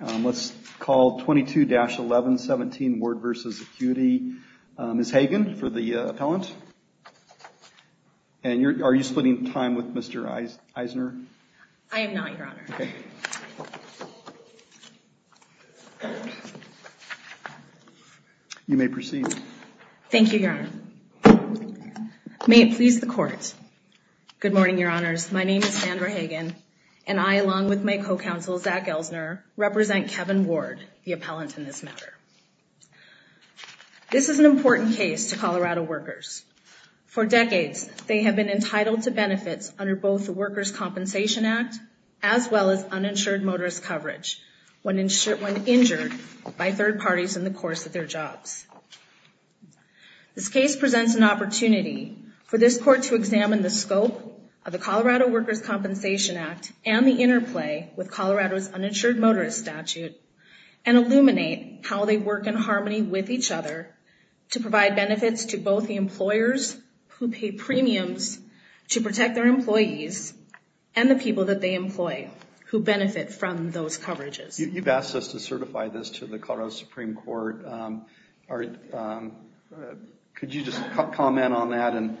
22-1117 Ward v. Acuity. Ms. Hagen for the appellant. And are you splitting time with Mr. Eisner? I am not, Your Honor. You may proceed. Thank you, Your Honor. May it please the Court. Good morning, Your Honors. My name is Sandra Hagen, and I, along with my co-counsel Zach Eisner, represent Kevin Ward, the appellant in this matter. This is an important case to Colorado workers. For decades, they have been entitled to benefits under both the Workers Compensation Act, as well as uninsured motorist coverage when injured by third parties in the course of their jobs. This case presents an opportunity for this Court to examine the Colorado's uninsured motorist statute and illuminate how they work in harmony with each other to provide benefits to both the employers who pay premiums to protect their employees and the people that they employ who benefit from those coverages. You've asked us to certify this to the Colorado Supreme Court. Could you just comment on that? And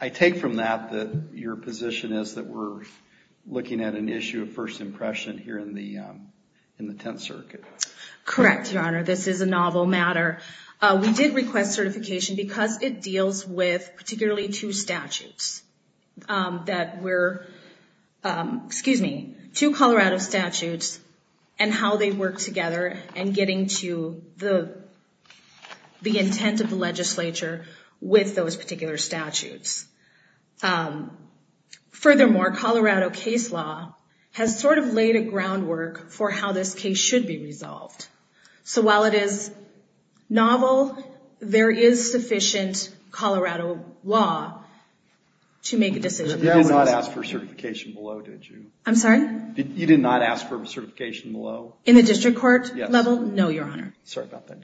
I take from that that your position is that we're looking at an issue of first impression here in the Tenth Circuit. Correct, Your Honor. This is a novel matter. We did request certification because it deals with particularly two statutes that were, excuse me, two Colorado statutes and how they work together and getting to the intent of the legislature with those particular statutes. Furthermore, Colorado case law has sort of laid a groundwork for how this case should be resolved. So while it is novel, there is sufficient Colorado law to make a decision. You did not ask for certification below, did you? I'm sorry? You did not ask for certification below? In the district court level? Yes. No, Your Honor. Sorry about that.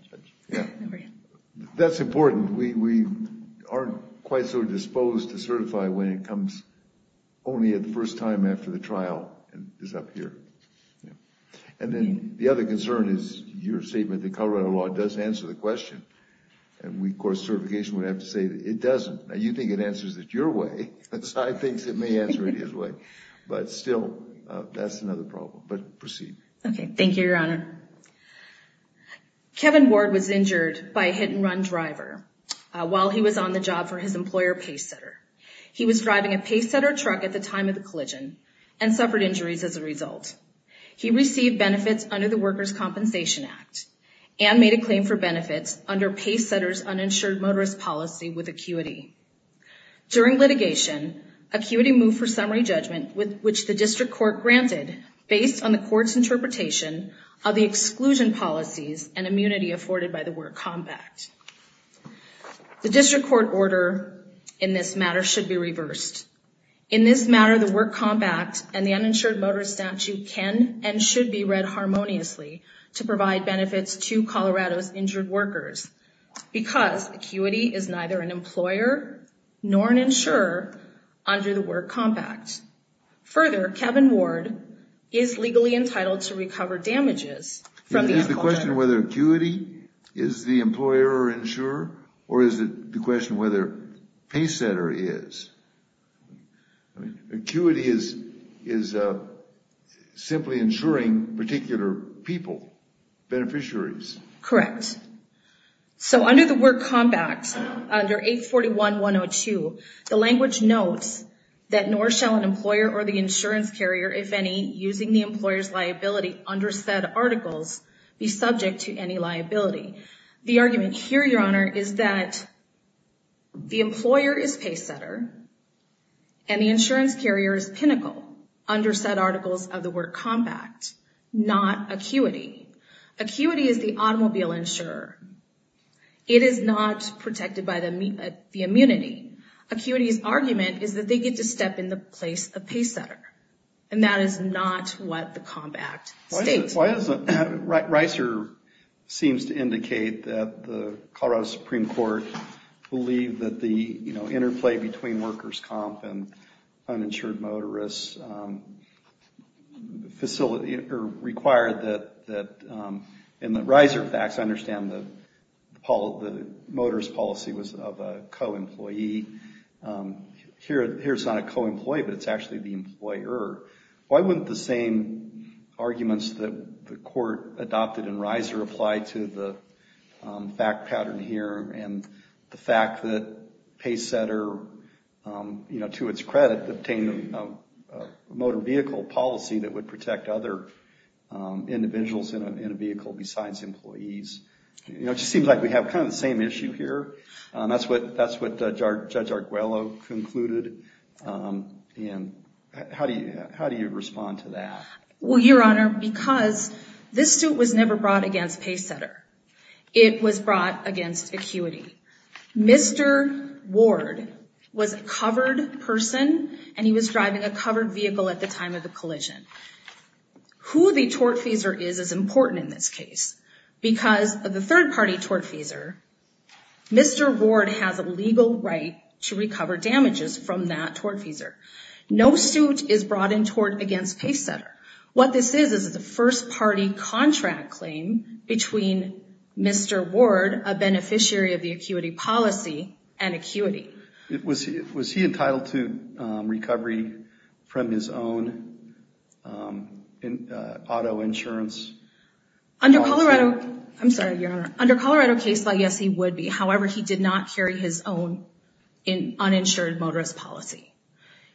That's important. We aren't quite so disposed to certify when it comes only at the first time after the trial and is up here. And then the other concern is your statement that Colorado law does answer the question. And we, of course, certification would have to say that it doesn't. Now you think it answers it your way. I think it may answer it his way. But still, that's another problem. But proceed. Okay. Thank you, Your Honor. Kevin Ward was injured by a hit and run driver while he was on the job for his employer Pacesetter. He was driving a Pacesetter truck at the time of the collision and suffered injuries as a result. He received benefits under the Workers' Compensation Act and made a claim for benefits under Pacesetter's uninsured motorist policy with acuity. During litigation, acuity moved for summary judgment which the district court granted based on the court's interpretation of the exclusion policies and immunity afforded by the Work Compact. The district court order in this matter should be reversed. In this matter, the Work Compact and the uninsured motorist statute can and should be read harmoniously to provide benefits to Colorado's injured workers because acuity is neither an Further, Kevin Ward is legally entitled to recover damages from the Is the question whether acuity is the employer or insurer? Or is it the question whether Pacesetter is? I mean, acuity is, is simply insuring particular people, beneficiaries. Correct. So under the Work Compact, under 841-102, the language notes that nor shall an insurer or the insurance carrier, if any, using the employer's liability under said articles be subject to any liability. The argument here, Your Honor, is that the employer is Pacesetter and the insurance carrier is Pinnacle under said articles of the Work Compact, not acuity. Acuity is the automobile insurer. It is not protected by the immunity. Acuity's argument is that they get to step in the place of Pacesetter and that is not what the Compact states. Why doesn't Reiser seems to indicate that the Colorado Supreme Court believe that the, you know, interplay between workers comp and uninsured motorists facility, or required that, that in the Reiser facts, I understand that Paul, the motorist policy was of a co-employee. Here, here's not a co-employee, but it's actually the employer. Why wouldn't the same arguments that the court adopted in Reiser apply to the fact pattern here and the fact that Pacesetter, you know, to its credit, obtained a motor vehicle policy that would protect other individuals in a vehicle besides employees? You know, it just seems like we have kind of the same issue here. That's what, that's what Judge Arguello concluded. And how do you, how do you respond to that? Well, Your Honor, because this suit was never brought against Pacesetter. It was brought against acuity. Mr. Ward was a covered person and he was driving a covered vehicle at the time of the collision. Who the tortfeasor is, is important in this case. Because of the third party tortfeasor, Mr. Ward has a legal right to recover damages from that tortfeasor. No suit is brought in tort against Pacesetter. What this is, is a first party contract claim between Mr. Ward, a beneficiary of the acuity policy, and acuity. Was he, was he entitled to recovery from his own auto insurance? Under Colorado, I'm sorry, Your Honor, under Colorado case law, yes, he would be. However, he did not carry his own uninsured motorist policy.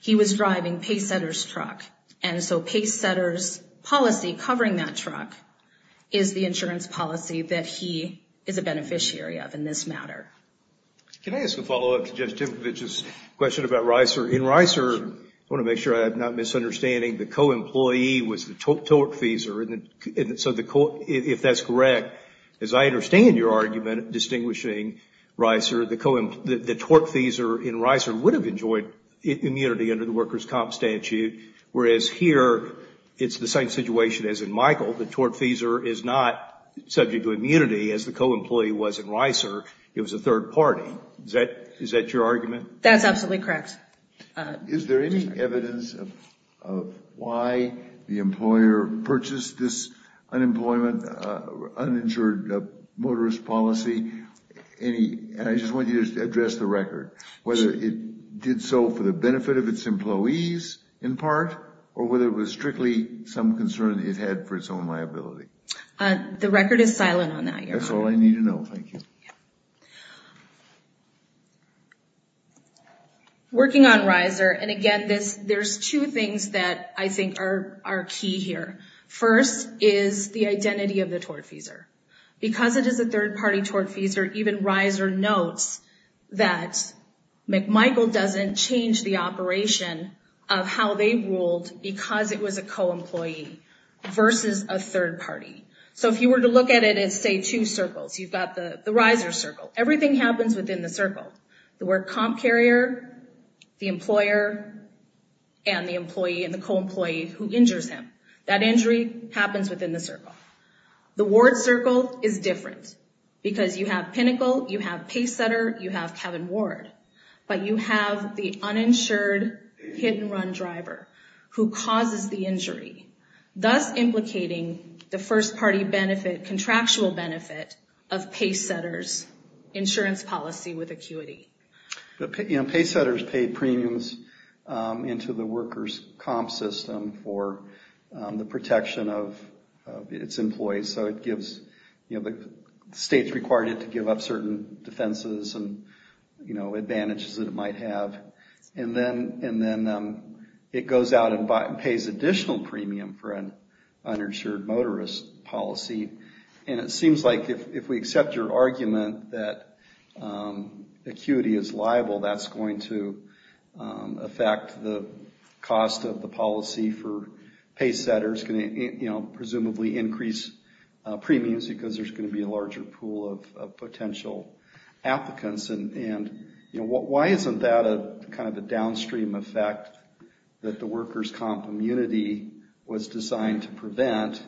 He was driving Pacesetter's truck. And so Pacesetter's policy, covering that truck, is the insurance policy that he is a beneficiary of in this matter. Can I ask a follow up to Judge Timkovich's question about Reiser? In Reiser, I want to make sure I'm not misunderstanding, the co-employee was the tortfeasor. If that's correct, as I understand your argument, distinguishing Reiser, the tortfeasor in Reiser would have enjoyed immunity under the workers' comp statute. Whereas here, it's the same situation as in Michael. The tortfeasor is not subject to immunity, as the co-employee was in Reiser. It was a third party. Is that your argument? That's absolutely correct. Is there any evidence of why the employer purchased this unemployment, uninsured motorist policy? And I just want you to address the record, whether it did so for the benefit of its employees, in part, or whether it was strictly some concern it had for its own Working on Reiser, and again, there's two things that I think are key here. First is the identity of the tortfeasor. Because it is a third party tortfeasor, even Reiser notes that McMichael doesn't change the operation of how they ruled because it was a co-employee versus a third party. So if you were to look at it as, say, two circles, you've got the Reiser circle. Everything happens within the circle. The work comp carrier, the employer, and the employee and the co-employee who injures him. That injury happens within the circle. The Ward circle is different because you have Pinnacle, you have Pacesetter, you have Kevin Ward, but you have the uninsured hit-and-run driver who causes the injury, thus implicating the first party benefit, contractual benefit, of Pacesetter's insurance policy with acuity. Pacesetter's paid premiums into the workers' comp system for the protection of its employees. So it gives, the state's required it to give up certain defenses and advantages that it might have. And then it goes out and pays additional premium for an uninsured motorist policy. And it seems like if we accept your argument that acuity is liable, that's going to affect the cost of the policy for Pacesetter. It's going to presumably increase premiums because there's going to be a larger pool of potential applicants. And why isn't that a downstream effect that the workers' comp immunity was designed to prevent?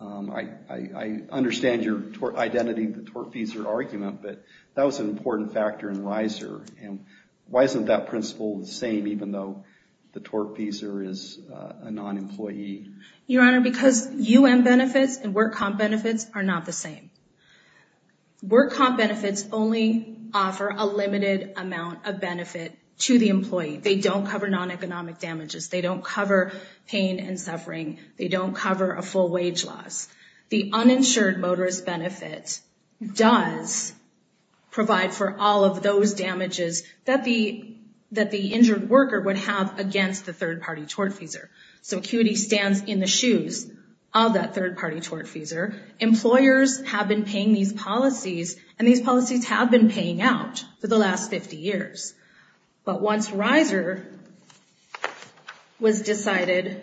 I understand your identity, the tort-feasor argument, but that was an important factor in Reiser. And why isn't that principle the same even though the tort-feasor is a non-employee? Your Honor, because UM benefits and work-comp benefits are not the same. Work-comp benefits only offer a limited amount of benefit to the employee. They don't cover non-economic damages. They don't cover pain and suffering. They don't cover a full wage loss. The uninsured motorist benefit does provide for all of those damages that the injured worker would have against the third-party tort-feasor. So acuity stands in the shoes of that third-party tort-feasor. Employers have been paying these policies, and these policies have been paying out for the last 50 years. But once Reiser was decided,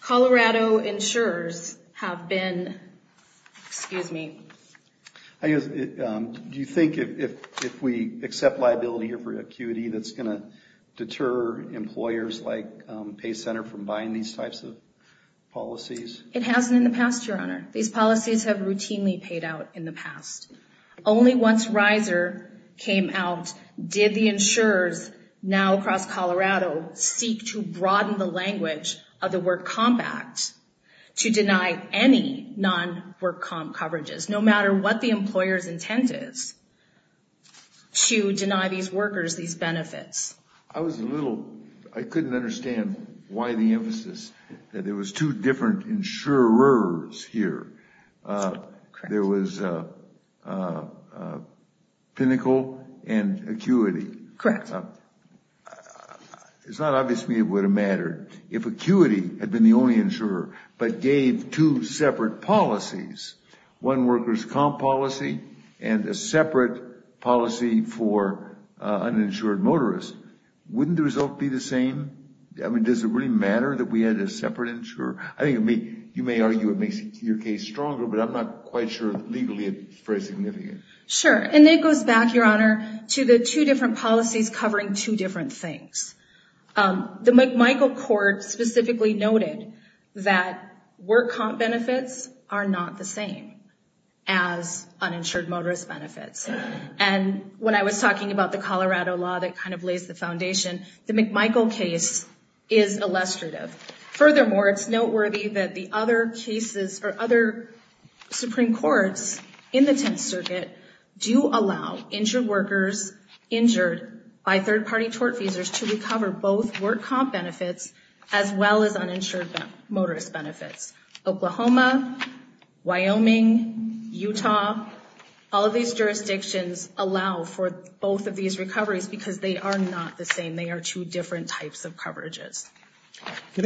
Colorado insurers have been, excuse me. Do you think if we accept liability for acuity that's going to deter employers like Pay Center from buying these types of policies? It hasn't in the past, Your Honor. These policies have routinely paid out in the past. Only once Reiser came out did the insurers now across Colorado seek to broaden the language of the Work Comp Act to deny any non-work comp coverages, no matter what the employer's intent is, to deny these workers these benefits. I was a little, I couldn't understand why the emphasis that there was two different insurers here. There was Pinnacle and Acuity. It's not obvious to me it would have mattered if Acuity had been the only insurer, but gave two separate policies. One worker's comp policy and a separate policy for uninsured motorists. Wouldn't the result be the same? I mean, does it really matter that we had a separate insurer? I think you may argue it makes your case stronger, but I'm not quite sure legally it's very significant. Sure. And it goes back, Your Honor, to the two different policies covering two different things. The McMichael Court specifically noted that work comp benefits are not the same as uninsured motorist benefits. And when I was talking about the Colorado law that kind of lays the foundation, the Furthermore, it's noteworthy that the other cases or other Supreme Courts in the Tenth Circuit do allow injured workers, injured by third party tort feasors to recover both work comp benefits as well as uninsured motorist benefits. Oklahoma, Wyoming, Utah, all of these jurisdictions allow for both of Can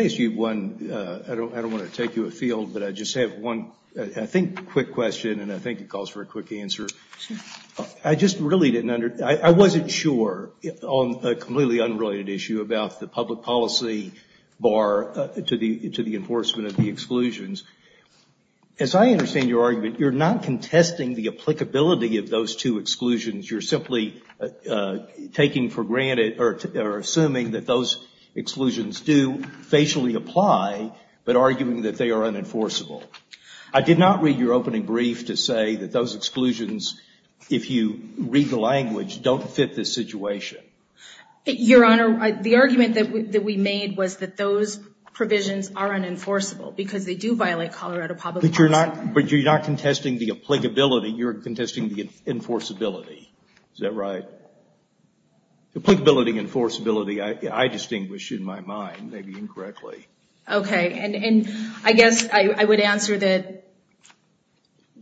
I ask you one? I don't want to take you afield, but I just have one, I think, quick question, and I think it calls for a quick answer. I just really didn't under, I wasn't sure on a completely unrelated issue about the public policy bar to the enforcement of the exclusions. As I understand your exclusions do facially apply, but arguing that they are unenforceable. I did not read your opening brief to say that those exclusions, if you read the language, don't fit this situation. Your Honor, the argument that we made was that those provisions are unenforceable because they do violate Colorado But you're not contesting the applicability, you're contesting the enforceability. Is that right? The applicability and enforceability, I distinguish in my mind, maybe incorrectly. Okay, and I guess I would answer that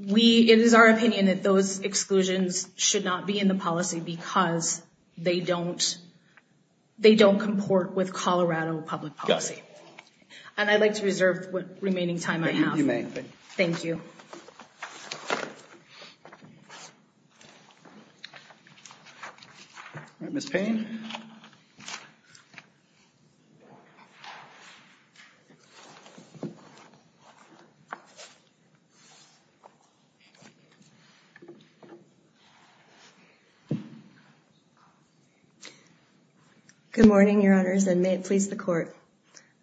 it is our opinion that those exclusions should not be in the policy because they don't comport with Colorado public policy. And I'd like to reserve what remaining time I have. Thank you. All right. Ms. Payne. Good morning, your honors, and may it please the court.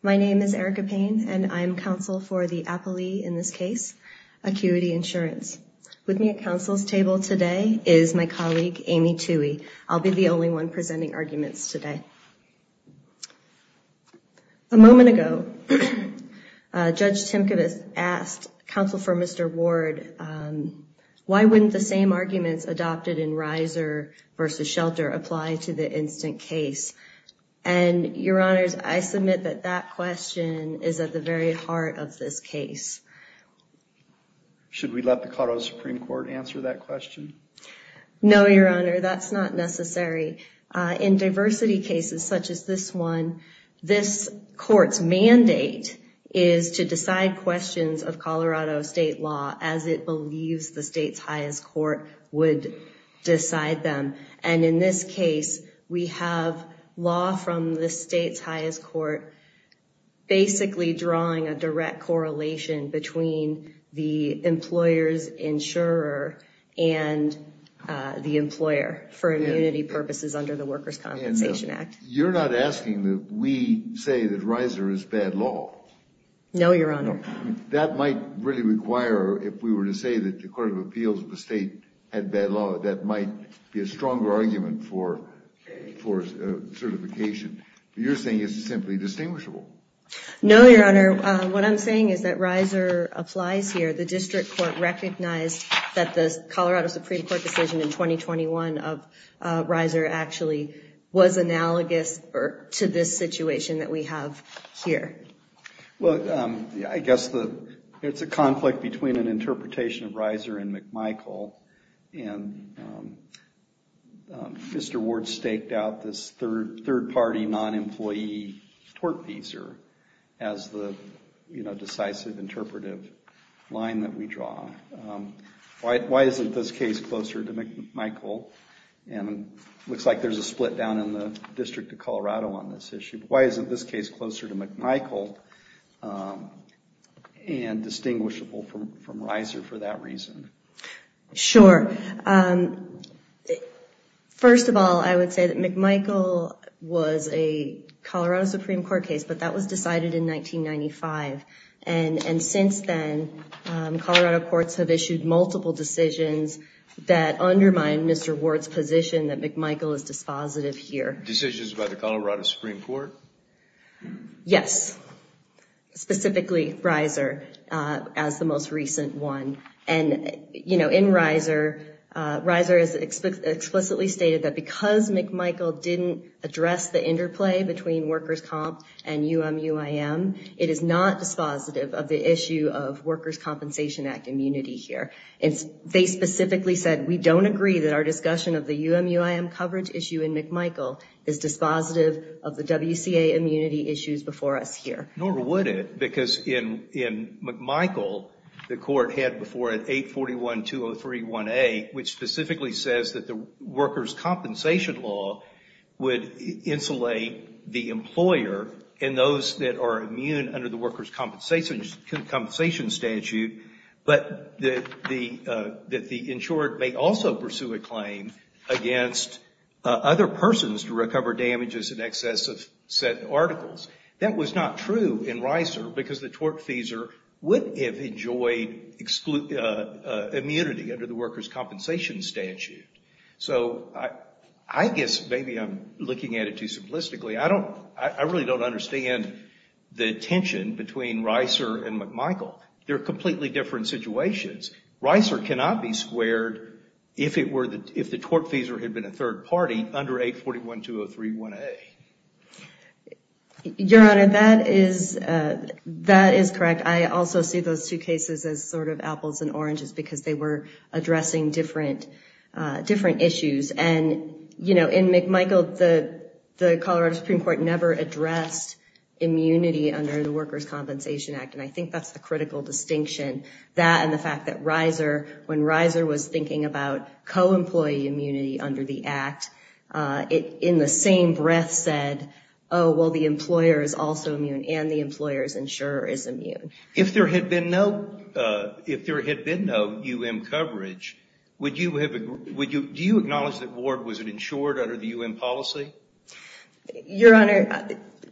My name is Erika Payne and I'm counsel for the Applee, in this case, Acuity Insurance. With me at counsel's table today is my colleague, Amy Tuohy. I'll be the only one presenting arguments today. A moment ago, Judge Timkovitz asked counsel for Mr. Ward, why wouldn't the same arguments adopted in Riser v. Shelter apply to the instant case? And, your honors, I submit that that question is at the very heart of this case. Should we let the Colorado Supreme Court answer that question? No, your honor, that's not necessary. In diversity cases such as this one, this court's mandate is to decide questions of Colorado state law as it believes the state's highest court would decide them. And in this case, we have law from the state's highest court basically drawing a direct correlation between the employer's insurer and the employer for immunity purposes under the Workers' Compensation Act. You're not asking that we say that Riser is bad law? No, your honor. That might really require, if we were to say that the Court of Appeals of the state had bad law, that might be a stronger argument for certification. You're saying it's simply distinguishable. No, your honor. What I'm saying is that Riser applies here. The district court recognized that the Colorado Supreme Court decision in 2021 of Riser actually was analogous to this situation that we have here. Well, I guess it's a conflict between an interpretation of Riser and McMichael. And Mr. Ward staked out this third-party non-employee tortfeasor as the decisive interpretive line that we draw. Why isn't this case closer to McMichael? And it looks like there's a split down in the District of Colorado on this issue. Why isn't this case closer to McMichael and distinguishable from Riser for that reason? Sure. First of all, I would say that McMichael was a Colorado Supreme Court case, but that was decided in 1995. And since then, Colorado courts have issued multiple decisions that undermine Mr. Ward's position that McMichael is dispositive here. Decisions by the Colorado Supreme Court? Yes. Specifically Riser as the most recent one. And in Riser, Riser has explicitly stated that because McMichael didn't address the interplay between workers' comp and UMUIM, it is not dispositive of the issue of Workers' Compensation Act immunity here. And they specifically said, we don't agree that our discussion of the UMUIM coverage issue in McMichael is dispositive of the WCA immunity issues before us here. Nor would it, because in McMichael, the court had before it 841-203-1A, which specifically says that the Workers' Compensation Law would insulate the employer and those that are immune under the Workers' Compensation Statute, but that the insured may also pursue a claim against other persons to recover damages in excess of said articles. That was not true in Riser, because the tortfeasor would have enjoyed immunity under the Workers' Compensation Statute. So I guess maybe I'm looking at it too simplistically. I really don't understand the tension between Riser and McMichael. They're completely different situations. Riser cannot be squared, if the tortfeasor had been a third party, under 841-203-1A. Your Honor, that is correct. I also see those two cases as sort of apples and oranges because they were addressing different issues. And, you know, in McMichael, the Colorado Supreme Court never addressed immunity under the Workers' Compensation Act, and I think that's the critical distinction, that and the fact that Riser, when Riser was thinking about co-employee immunity under the Act, in the same breath said, oh, well, the employer is also immune and the employer's insurer is immune. If there had been no U.M. coverage, do you acknowledge that Ward was insured under the U.M. policy? Your Honor,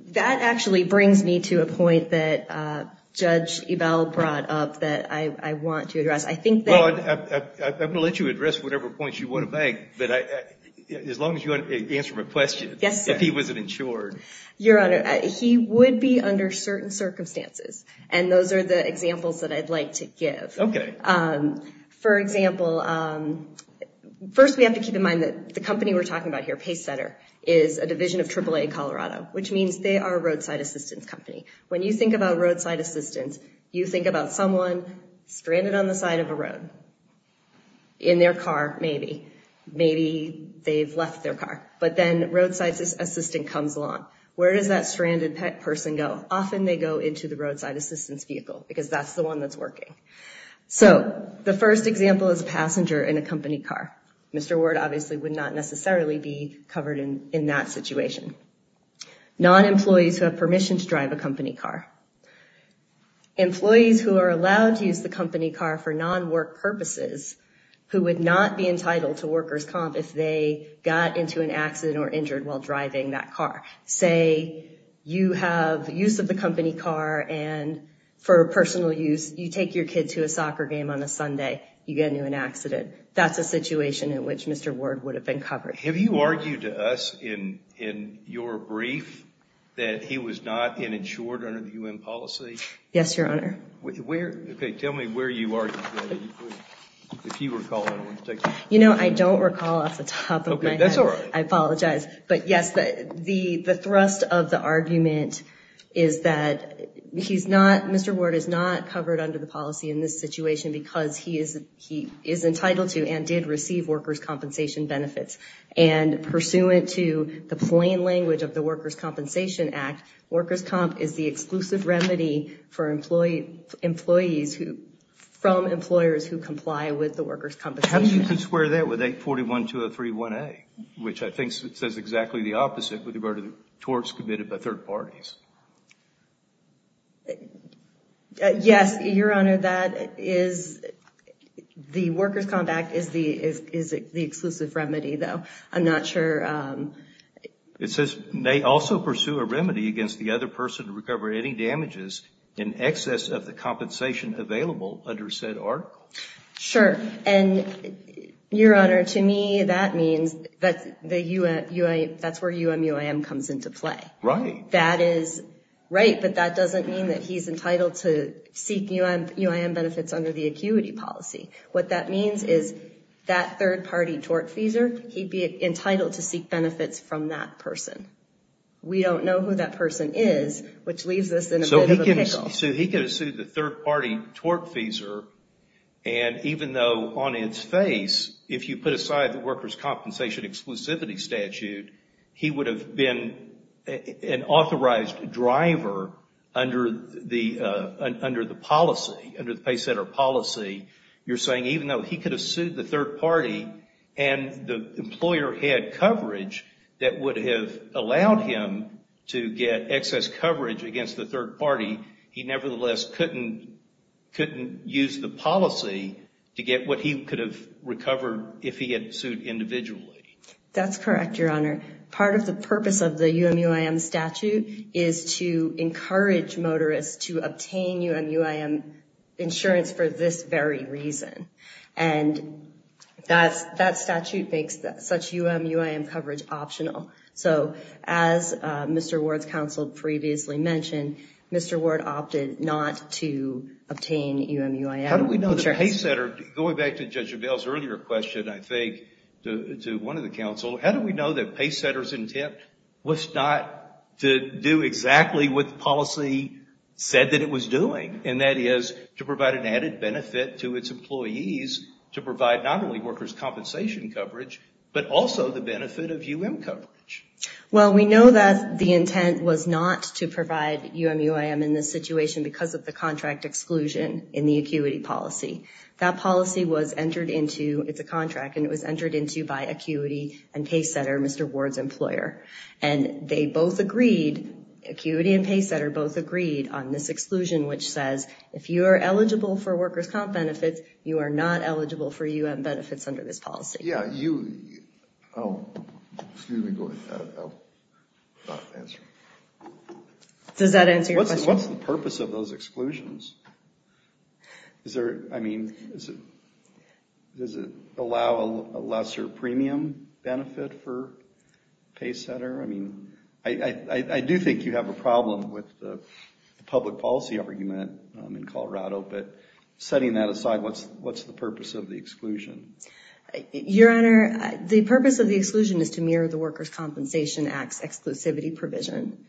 that actually brings me to a point that Judge Ebell brought up that I want to address. Well, I will let you address whatever points you want to make, but as long as you answer my question, if he wasn't insured. Your Honor, he would be under certain circumstances, and those are the examples that I'd like to give. Okay. For example, first we have to keep in mind that the company we're talking about here, Pacesetter, is a division of AAA Colorado, which means they are a roadside assistance company. When you think about roadside assistance, you think about someone stranded on the side of a road. In their car, maybe. Maybe they've left their car. But then roadside assistant comes along. Where does that stranded person go? Often they go into the roadside assistance vehicle because that's the one that's working. So the first example is a passenger in a company car. Mr. Ward obviously would not necessarily be covered in that situation. Non-employees who have permission to drive a company car. Employees who are allowed to use the company car for non-work purposes who would not be entitled to worker's comp if they got into an accident or injured while driving that car. Say you have use of the company car, and for personal use, you take your kid to a soccer game on a Sunday, you get into an accident. That's a situation in which Mr. Ward would have been covered. Now, have you argued to us in your brief that he was not insured under the U.N. policy? Yes, Your Honor. Tell me where you argued that. You know, I don't recall off the top of my head. That's all right. I apologize. But yes, the thrust of the argument is that he's not, Mr. Ward is not covered under the policy in this situation because he is entitled to and did receive worker's compensation benefits. And pursuant to the plain language of the Worker's Compensation Act, worker's comp is the exclusive remedy for employees from employers who comply with the worker's compensation. How do you square that with 841-203-1A, which I think says exactly the opposite with regard to the torts committed by third parties? Yes, Your Honor, that is, the worker's compact is the exclusive remedy, though. I'm not sure. It says may also pursue a remedy against the other person to recover any damages in excess of the compensation available under said article. Sure. And, Your Honor, to me, that means that's where UMUIM comes into play. Right. That is right, but that doesn't mean that he's entitled to seek UIM benefits under the acuity policy. What that means is that third-party tortfeasor, he'd be entitled to seek benefits from that person. We don't know who that person is, which leaves us in a bit of a pickle. So he could have sued the third-party tortfeasor, and even though on its face, if you put aside the worker's compensation exclusivity statute, he would have been an authorized driver under the policy, under the pay center policy. You're saying even though he could have sued the third-party and the employer had coverage that would have allowed him to get excess coverage against the third-party, he nevertheless couldn't use the policy to get what he could have recovered if he had sued individually. That's correct, Your Honor. Part of the purpose of the UMUIM statute is to encourage motorists to obtain UMUIM insurance for this very reason, and that statute makes such UMUIM coverage optional. So as Mr. Ward's counsel previously mentioned, Mr. Ward opted not to obtain UMUIM insurance. How do we know the pay center, going back to Judge O'Dell's earlier question, I think, to one of the counsel, how do we know that pay center's intent was not to do exactly what the policy said that it was doing, and that is to provide an added benefit to its employees to provide not only worker's compensation coverage, but also the benefit of UM coverage? Well, we know that the intent was not to provide UMUIM in this situation because of the contract exclusion in the acuity policy. That policy was entered into, it's a contract, and it was entered into by acuity and pay center, Mr. Ward's employer, and they both agreed, acuity and pay center both agreed on this exclusion, which says if you are eligible for worker's comp benefits, you are not eligible for UM benefits under this policy. Yeah, you, oh, excuse me, go ahead. I'll not answer. Does that answer your question? What's the purpose of those exclusions? Is there, I mean, does it allow a lesser premium benefit for pay center? I mean, I do think you have a problem with the public policy argument in Colorado, but setting that aside, what's the purpose of the exclusion? Your Honor, the purpose of the exclusion is to mirror the worker's compensation act's exclusivity provision,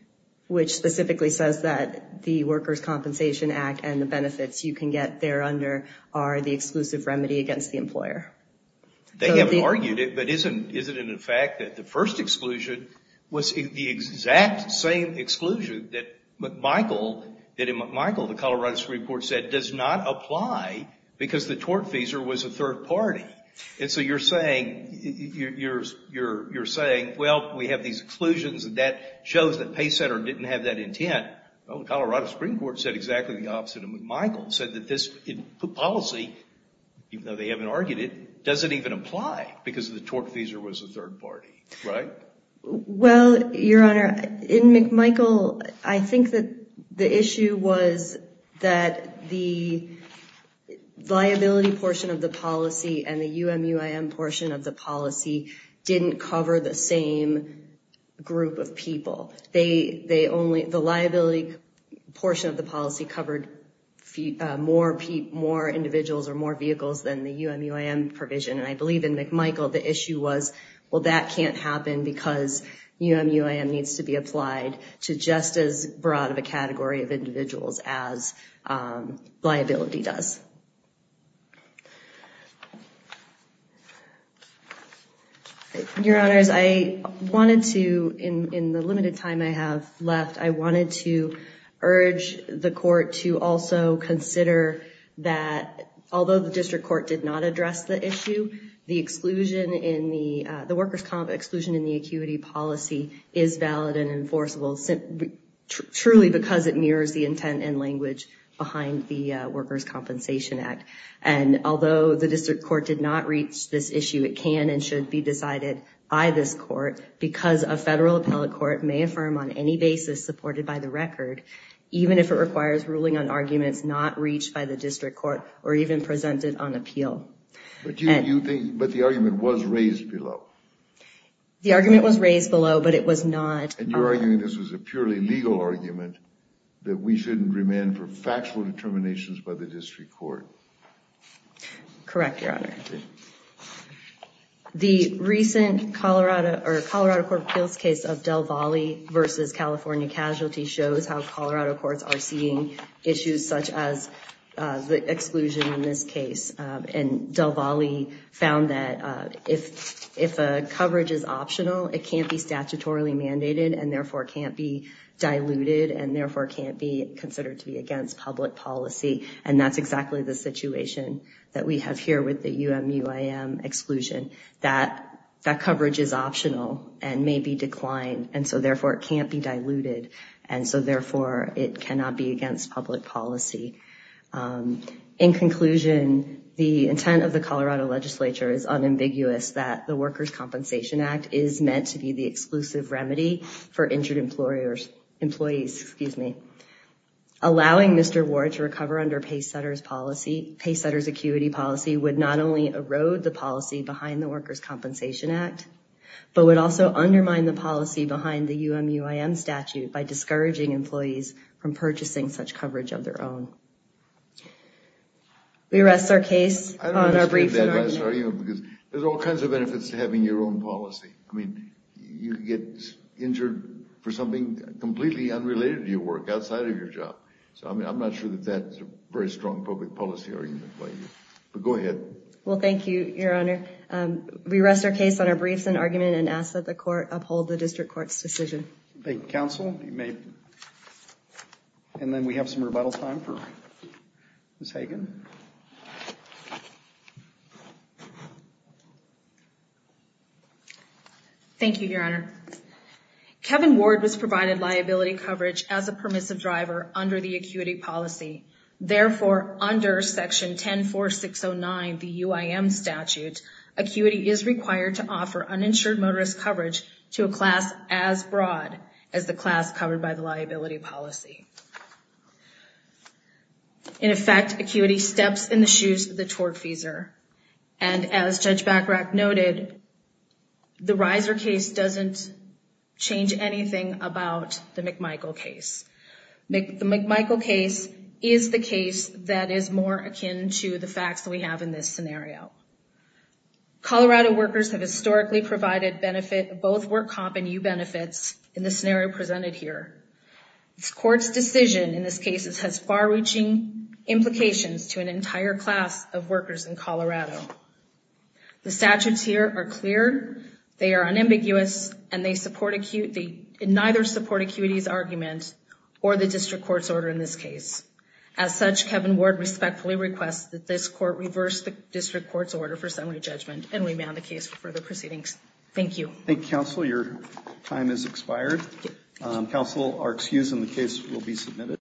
which specifically says that the worker's compensation act and the benefits you can get there under are the exclusive remedy against the employer. They haven't argued it, but isn't it a fact that the first exclusion was the exact same exclusion that McMichael, that in McMichael, the Colorado Supreme Court said does not apply because the tort feeser was a third party. And so you're saying, you're saying, well, we have these exclusions and that shows that pay center didn't have that intent. Well, the Colorado Supreme Court said exactly the opposite of McMichael, said that this policy, even though they haven't argued it, doesn't even apply because the tort feeser was a third party. Right? Well, Your Honor, in McMichael, I think that the issue was that the liability portion of the policy and the group of people, they, they only, the liability portion of the policy covered more people, more individuals or more vehicles than the UMUIM provision. And I believe in McMichael, the issue was, well, that can't happen because UMUIM needs to be applied to just as broad of a category of individuals as liability does. Your Honors, I wanted to, in, in the limited time I have left, I wanted to urge the court to also consider that although the district court did not address the issue, the exclusion in the, the workers' comp exclusion in the acuity policy is valid and enforceable truly because it mirrors the intent and language behind the workers' compensation act. And although the district court did not reach this issue, it can and should be decided by this court because a federal appellate court may affirm on any basis supported by the record, even if it requires ruling on arguments not reached by the district court or even presented on appeal. But you, you think, but the argument was raised below. The argument was raised below, but it was not. And you're arguing this was a purely legal argument that we shouldn't remand for factual determinations by the district court. Correct, Your Honor. The recent Colorado or Colorado court appeals case of Del Valle versus California casualty shows how Colorado courts are seeing issues such as the exclusion in this case. And Del Valle found that if, if a coverage is optional, it can't be statutorily mandated and therefore can't be diluted and therefore can't be considered to be against public policy. And that's exactly the situation that we have here with the UMUIM exclusion that that coverage is optional and may be declined. And so therefore it can't be diluted. And so therefore it cannot be against public policy. In conclusion, the intent of the Colorado legislature is unambiguous that the workers' compensation act is meant to be the exclusive remedy for injured employers, employees, excuse me. Allowing Mr. Ward to recover under paysetters policy, paysetters acuity policy would not only erode the policy behind the workers' compensation act, but would also undermine the policy behind the UMUIM statute by discouraging employees from purchasing such coverage of their own. We rest our case on our brief. There's all kinds of benefits to having your own policy. I mean, you get injured for something completely unrelated to your work outside of your job. So, I mean, I'm not sure that that's a very strong public policy argument by you, but go ahead. Well, thank you, your honor. We rest our case on our briefs and argument and ask that the court uphold the district court's decision. Thank you, counsel. And then we have some rebuttal time for Ms. Hagan. Thank you, your honor. Kevin Ward was provided liability coverage as a permissive driver under the acuity policy. Therefore, under section 10, 4, 6, 0 9, the UIM statute, acuity is required to offer uninsured motorist coverage to a class as broad as the class covered by the liability policy. In effect, acuity steps in the shoes of the tortfeasor. And as judge Bacharach noted, the riser case doesn't change anything about the McMichael case. The McMichael case is the case that is more akin to the facts that we have in this scenario. Colorado workers have historically provided benefit, both work comp and U benefits in the scenario presented here. It's court's decision in this case, The statutes here are clear. They are unambiguous and they support acute. They neither support acuity's argument or the district court's order in this case. As such, Kevin Ward respectfully requests that this court reverse the district court's order for summary judgment. And we may have the case for further proceedings. Thank you. Thank you, counsel. Your time is expired. Counsel are excused and the case will be submitted.